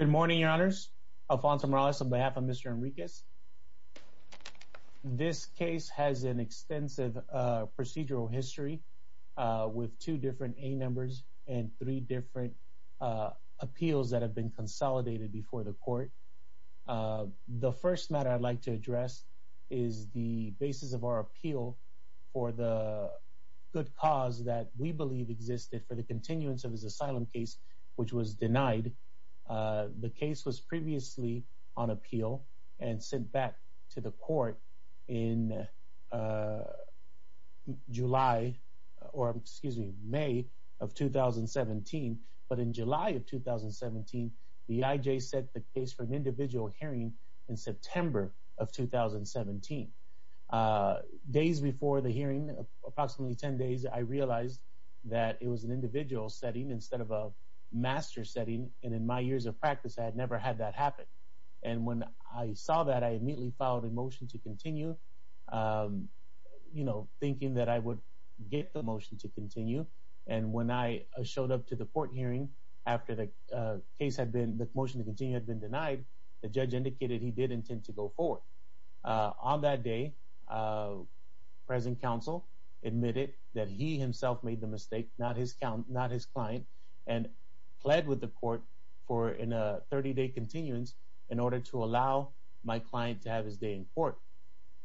Good morning, Your Honors. Alfonso Morales on behalf of Mr. Henriquez. This case has an extensive procedural history with two different A numbers and three different appeals that have been consolidated before the court. The first matter I'd like to address is the basis of our appeal for the good cause that we believe existed for the continuance of his asylum case, which was denied. The case was previously on appeal and sent back to the court in July, or excuse me, May of 2017. But in July of 2017, the IJ set the case for an individual hearing in September of 2017. Days before the hearing, approximately 10 days, I realized that it was an individual setting instead of a master setting. And in my years of practice, I had never had that happen. And when I saw that, I immediately filed a motion to continue, you know, thinking that I would get the motion to continue. And when I showed up to the court hearing after the motion to continue had been denied, the judge indicated he did intend to go forward. On that day, present counsel admitted that he himself made the mistake, not his client, and pled with the court for a 30-day continuance in order to allow my client to have his day in court.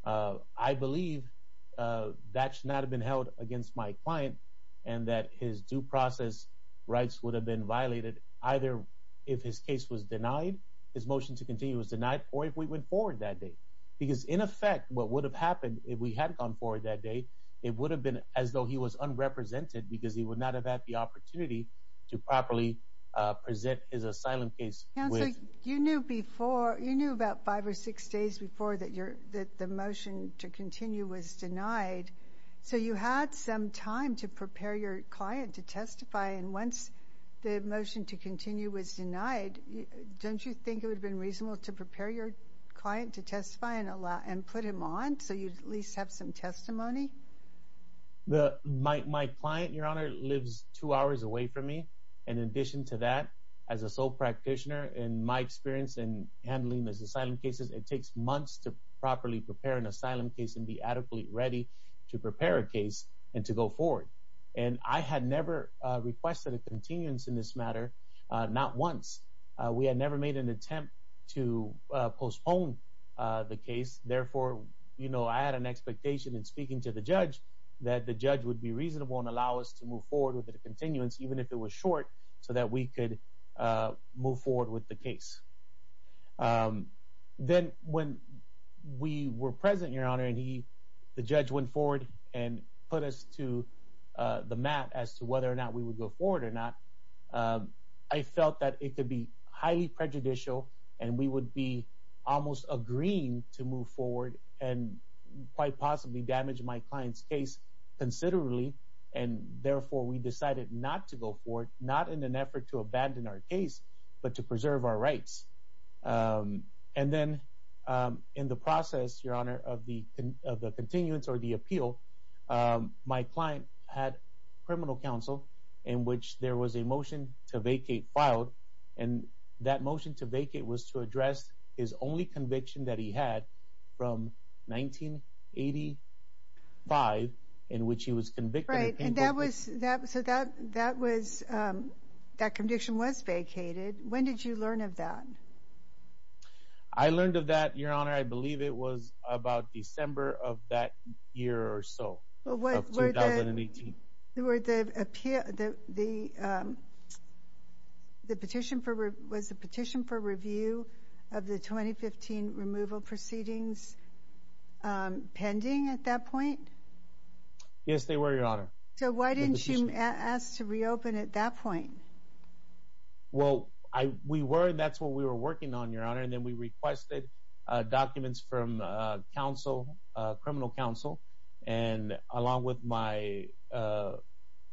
I believe that should not have been held against my client and that his due process rights would have been violated either if his case was denied, his motion to continue was denied, or if we went forward that day. Because in effect, what would have happened if we had gone forward that day, it would have been as though he was unrepresented because he would not have had the opportunity to properly present his asylum case. Counsel, you knew before, you knew about five or six days before that the motion to continue was the motion to continue was denied. Don't you think it would have been reasonable to prepare your client to testify and put him on so you'd at least have some testimony? My client, Your Honor, lives two hours away from me. In addition to that, as a sole practitioner, in my experience in handling these asylum cases, it takes months to properly prepare an asylum case and be adequately ready to prepare a case and to go forward. And I had never requested a continuance in this matter, not once. We had never made an attempt to postpone the case. Therefore, you know, I had an expectation in speaking to the judge that the judge would be reasonable and allow us to move forward with the continuance, even if it was short, so that we could move forward with the case. Then when we were present, Your Honor, and the judge went forward and put us to the mat as to whether or not we would go forward or not, I felt that it could be highly prejudicial and we would be almost agreeing to move forward and quite possibly damage my client's case considerably. And therefore, we decided not to go forward, not in an effort to abandon our case, but to preserve our rights. And then in the process, Your Honor, of the continuance or the appeal, my client had criminal counsel in which there was a motion to vacate filed. And that motion to vacate was to address his only conviction that he had from 1985, in which he was convicted. Right. And that was, so that was, that conviction was vacated. When did you learn of that? I learned of that, Your Honor, I believe it was about December of that year or so. Well, what were the, the petition for, was the petition for review of the 2015 removal proceedings pending at that point? Yes, they were, Your Honor. So why didn't you ask to reopen at that point? Well, I, we were, that's what we were working on, Your Honor. And then we requested documents from counsel, criminal counsel, and along with my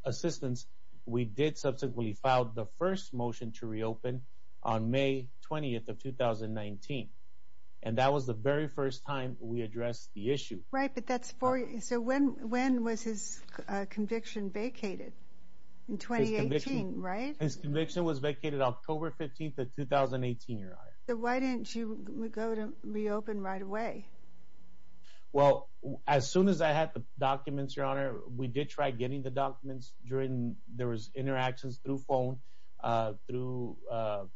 assistants, we did subsequently filed the first motion to reopen on May 20th of 2019. And that was the very first time we addressed the issue. Right, but that's for, so when, when was his conviction vacated? In 2018, right? His conviction was vacated October 15th of 2018, Your Honor. So why didn't you go to reopen right away? Well, as soon as I had the documents, Your Honor, we did try getting the documents during, there was interactions through phone, through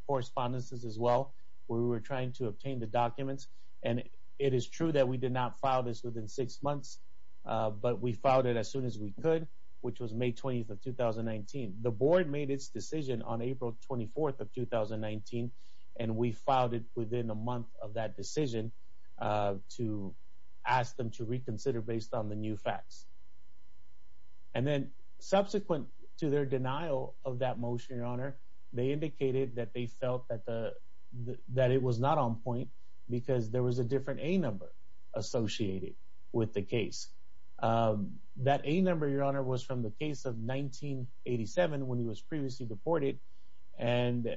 correspondences as well, where we were trying to obtain the documents. And it is true that we did not file this within six months, but we filed it as soon as we could, which was May 20th of 2019. The board made its decision on April 24th of 2019. And we filed it within a month of that decision to ask them to reconsider based on the new facts. And then subsequent to their denial of that motion, Your Honor, they indicated that they felt that the, that it was not on point because there was a different A number associated with the case. That A number, Your Honor, was from the case of 1987 when he was previously deported. And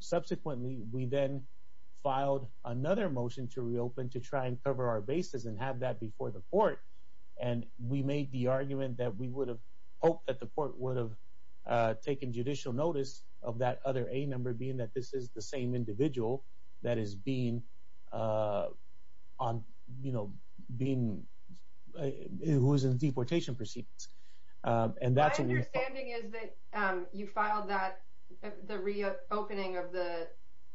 subsequently we then filed another motion to reopen to try and cover our bases and have that before the court. And we made the argument that we would have hoped that the court would have taken judicial notice of that other A number being that this is the same individual that is being on, you know, being, who is in deportation proceedings. My understanding is that you filed that, the reopening of the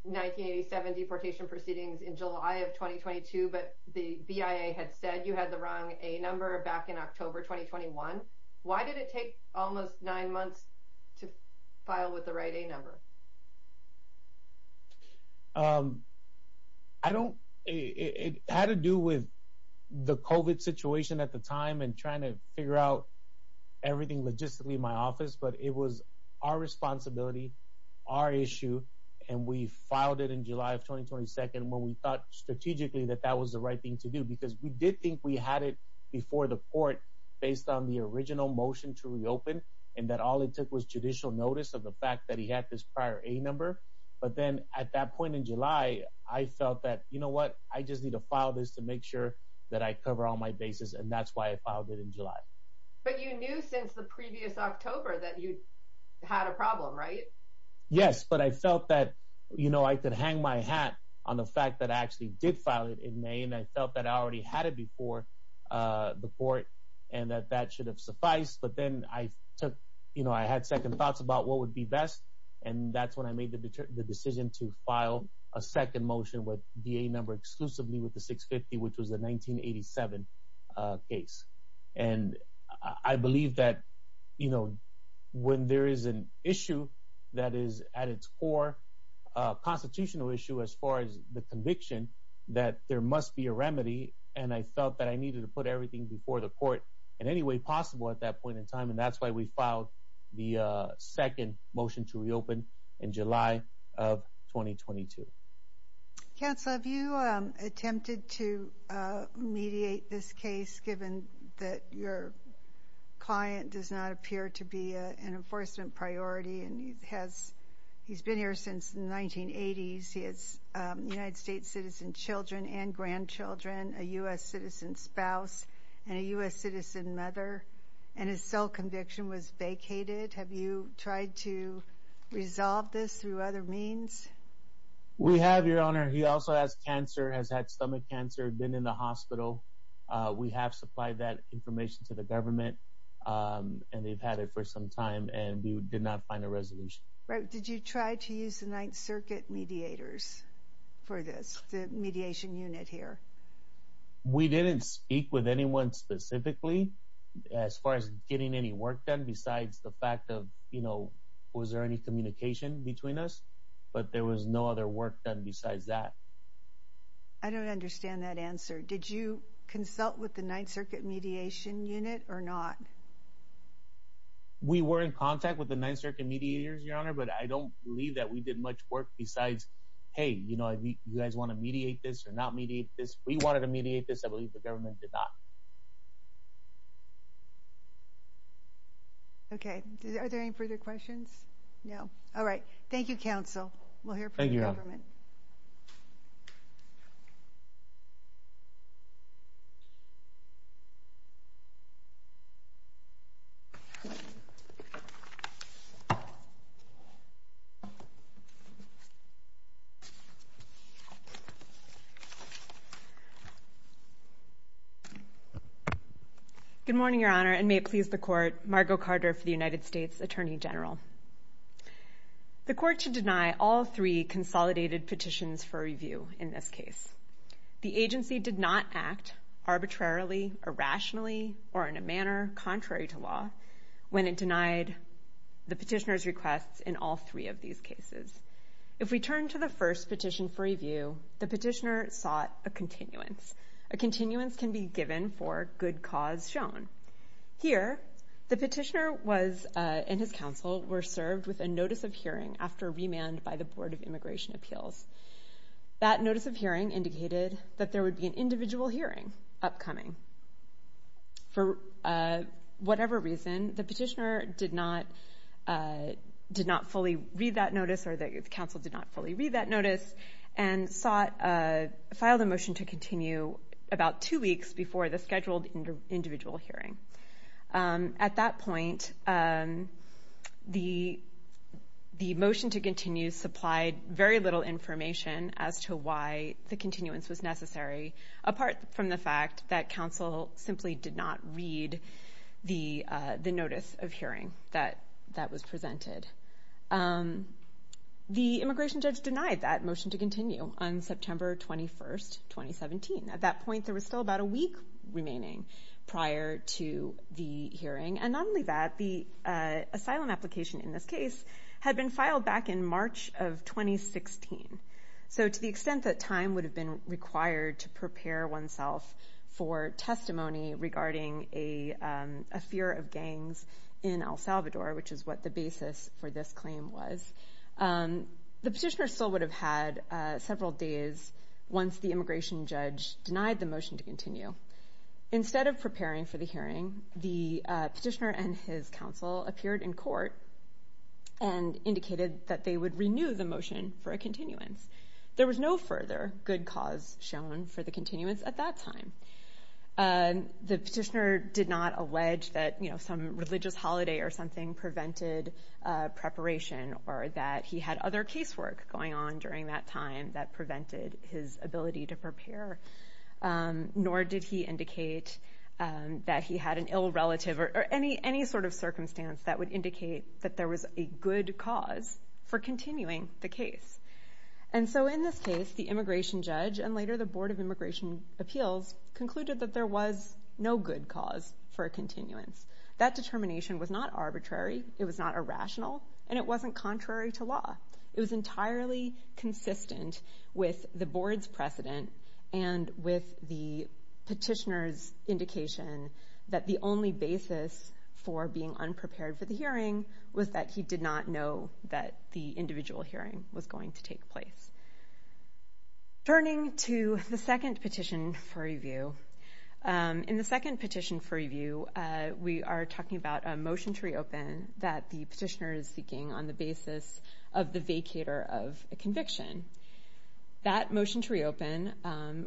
1987 deportation proceedings in July of 2022, but the BIA had said you had the wrong A number back in October 2021. Why did it take almost nine months to file with the right A number? I don't, it had to do with the COVID situation at the time and trying to figure out everything logistically in my office, but it was our responsibility, our issue, and we filed it in July of 2022 when we thought strategically that that was the right thing to do. Because we did think we had it before the court based on the original motion to reopen and that all it took was judicial notice of the fact that he had this prior A number. But then at that point in July, I felt that, you know what, I just need to file this to make sure that I cover all my bases and that's why I filed it in July. But you knew since the previous October that you had a problem, right? Yes, but I felt that, you know, I could hang my hat on the fact that I actually did file it in May and I felt that I already had it before the court and that that should have sufficed. But then I took, you know, I had second thoughts about what would be best and that's when I made the decision to file a second motion with the A number exclusively with the 650 which was the 1987 case. And I believe that, you know, when there is an issue that is at its core, a constitutional issue as far as the conviction, that there must be a remedy and I felt that I needed to put everything before the court in any way possible at that point in time and that's why we filed the second motion to reopen in July of 2022. Counselor, have you attempted to mediate this case given that your client does not appear to be an enforcement priority and he's been here since the 1980s. He has United States citizen children and grandchildren, a U.S. citizen spouse, and a U.S. citizen mother and his sole conviction was vacated. Have you tried to resolve this through other means? We have, your honor. He also has cancer, has had stomach cancer, been in the hospital. We have supplied that information to the government and they've had for some time and we did not find a resolution. Right. Did you try to use the Ninth Circuit mediators for this, the mediation unit here? We didn't speak with anyone specifically as far as getting any work done besides the fact of, you know, was there any communication between us, but there was no other work done besides that. I don't understand that answer. Did you consult with the Ninth Circuit mediation unit or not? We were in contact with the Ninth Circuit mediators, your honor, but I don't believe that we did much work besides, hey, you know, you guys want to mediate this or not mediate this. We wanted to mediate this. I believe the government did not. Okay. Are there any further questions? No. All right. Thank you, counsel. We'll hear from the government. Good morning, your honor, and may it please the court, Margo Carter for the United States Attorney General. The court should deny all three consolidated petitions for review in this case. The agency did not act arbitrarily, irrationally, or in a manner contrary to law when it denied the petitioner's requests in all three of these cases. If we turn to the first petition for review, the petitioner sought a continuance. A continuance can be given for good cause shown. Here, the petitioner and his counsel were served with a notice of hearing after remand by the Board of Immigration Appeals. That notice of hearing indicated that there would be an individual hearing upcoming. For whatever reason, the petitioner did not fully read that notice, or the counsel did not fully read that notice, and filed a motion to continue about two weeks before the scheduled individual hearing. At that point, the motion to continue supplied very little information as to why the continuance was necessary, apart from the fact that counsel simply did not read the notice of hearing that was presented. The immigration judge denied that remaining prior to the hearing. Not only that, the asylum application in this case had been filed back in March of 2016. To the extent that time would have been required to prepare oneself for testimony regarding a fear of gangs in El Salvador, which is what the basis for this claim was, the petitioner still would have had several days once the immigration judge denied the motion to continue. Instead of preparing for the hearing, the petitioner and his counsel appeared in court and indicated that they would renew the motion for a continuance. There was no further good cause shown for the continuance at that time. The petitioner did not allege that, you know, some religious holiday or something prevented preparation, or that he had other casework going on during that time that prevented his ability to prepare, nor did he indicate that he had an ill relative or any sort of circumstance that would indicate that there was a good cause for continuing the case. And so in this case, the immigration judge and later the Board of Immigration Appeals concluded that there was no good cause for a continuance. That it was entirely consistent with the board's precedent and with the petitioner's indication that the only basis for being unprepared for the hearing was that he did not know that the individual hearing was going to take place. Turning to the second petition for review, in the second petition for review, we are talking about a motion to reopen that the petitioner is of the vacator of a conviction. That motion to reopen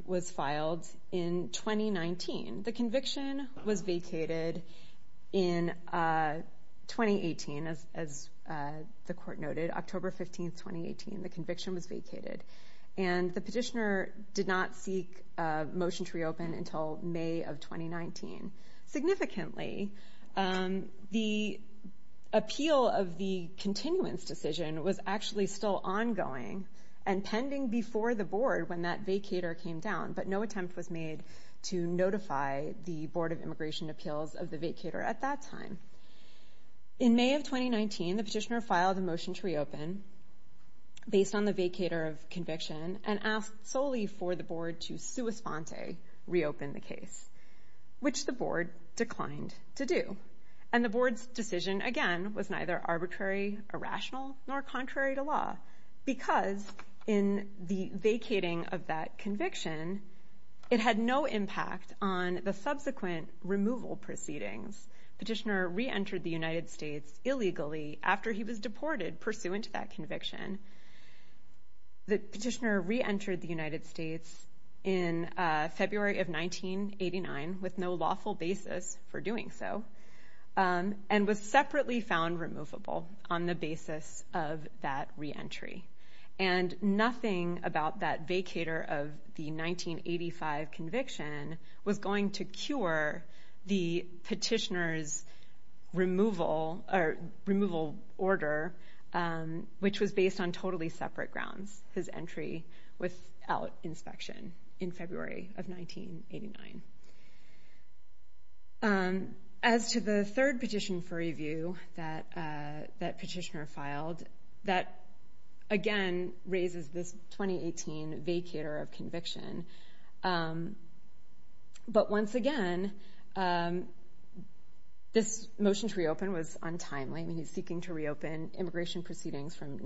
was filed in 2019. The conviction was vacated in 2018, as the court noted, October 15, 2018, the conviction was vacated. And the petitioner did not seek a motion to reopen until May of 2019. Significantly, the appeal of the continuance decision was actually still ongoing and pending before the board when that vacator came down, but no attempt was made to notify the Board of Immigration Appeals of the vacator at that time. In May of 2019, the petitioner filed a motion to reopen based on the vacator of conviction and asked solely for the board to sua sponte, reopen the case, which the board declined to do. And the board's decision, again, was neither arbitrary, irrational, nor contrary to law, because in the vacating of that conviction, it had no impact on the subsequent removal proceedings. Petitioner reentered the United States illegally after he was deported pursuant to that conviction. The petitioner reentered the with no lawful basis for doing so, and was separately found removable on the basis of that reentry. And nothing about that vacator of the 1985 conviction was going to cure the petitioner's removal order, which was based on totally separate grounds, his entry without inspection in February of 1989. As to the third petition for review that petitioner filed, that, again, raises this 2018 vacator of conviction. But once again, this motion to reopen was untimely. I mean, he's seeking to reopen immigration proceedings from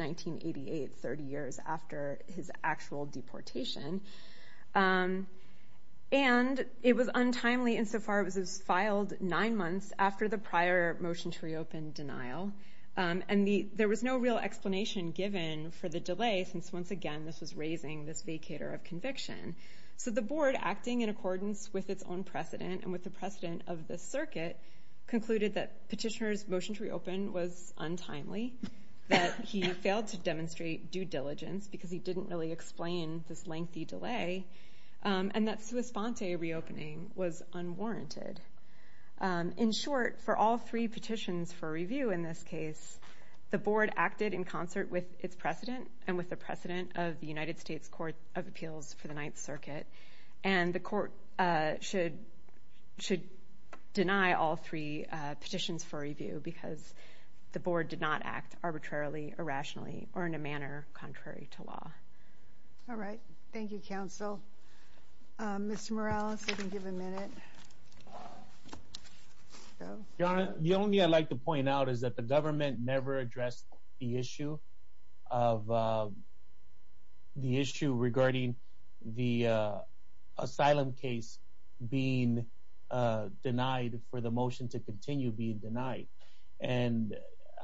and it was untimely insofar as it was filed nine months after the prior motion to reopen denial. And there was no real explanation given for the delay, since, once again, this was raising this vacator of conviction. So the board, acting in accordance with its own precedent and with the precedent of the circuit, concluded that petitioner's motion to reopen was untimely, that he failed to demonstrate due diligence because he didn't really explain this lengthy delay, and that sua sponte reopening was unwarranted. In short, for all three petitions for review in this case, the board acted in concert with its precedent and with the precedent of the United States Court of Appeals for the Ninth Circuit. And the court should deny all three petitions for review because the board did not act arbitrarily, irrationally, or in a manner contrary to law. All right, thank you, counsel. Mr. Morales, you can give a minute. Your Honor, the only thing I'd like to point out is that the government never addressed the issue of the issue regarding the asylum case being denied for the motion to continue being denied. And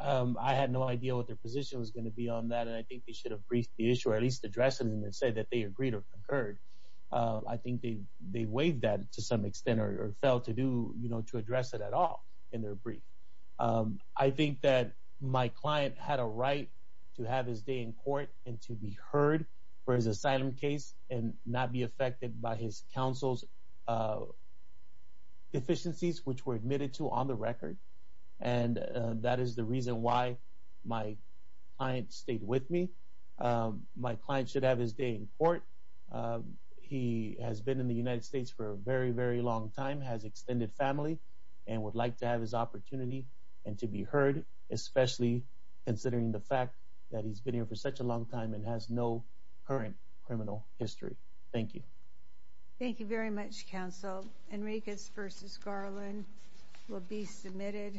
I had no idea what their position was going to be on that, and I think they should have briefed the issuer, at least addressed it, and then said that they agreed or concurred. I think they waived that to some extent or failed to address it at all in their brief. I think that my client had a right to have his day in court and to be heard for his asylum case and not be affected by his counsel's deficiencies, which were admitted to on the record. And that is the reason why my client stayed with me. My client should have his day in court. He has been in the United States for a very, very long time, has extended family, and would like to have his opportunity and to be heard, especially considering the fact that he's been here for such a long time and has no current criminal history. Thank you. Thank you very much, Counsel. Enriquez v. Garland will be submitted.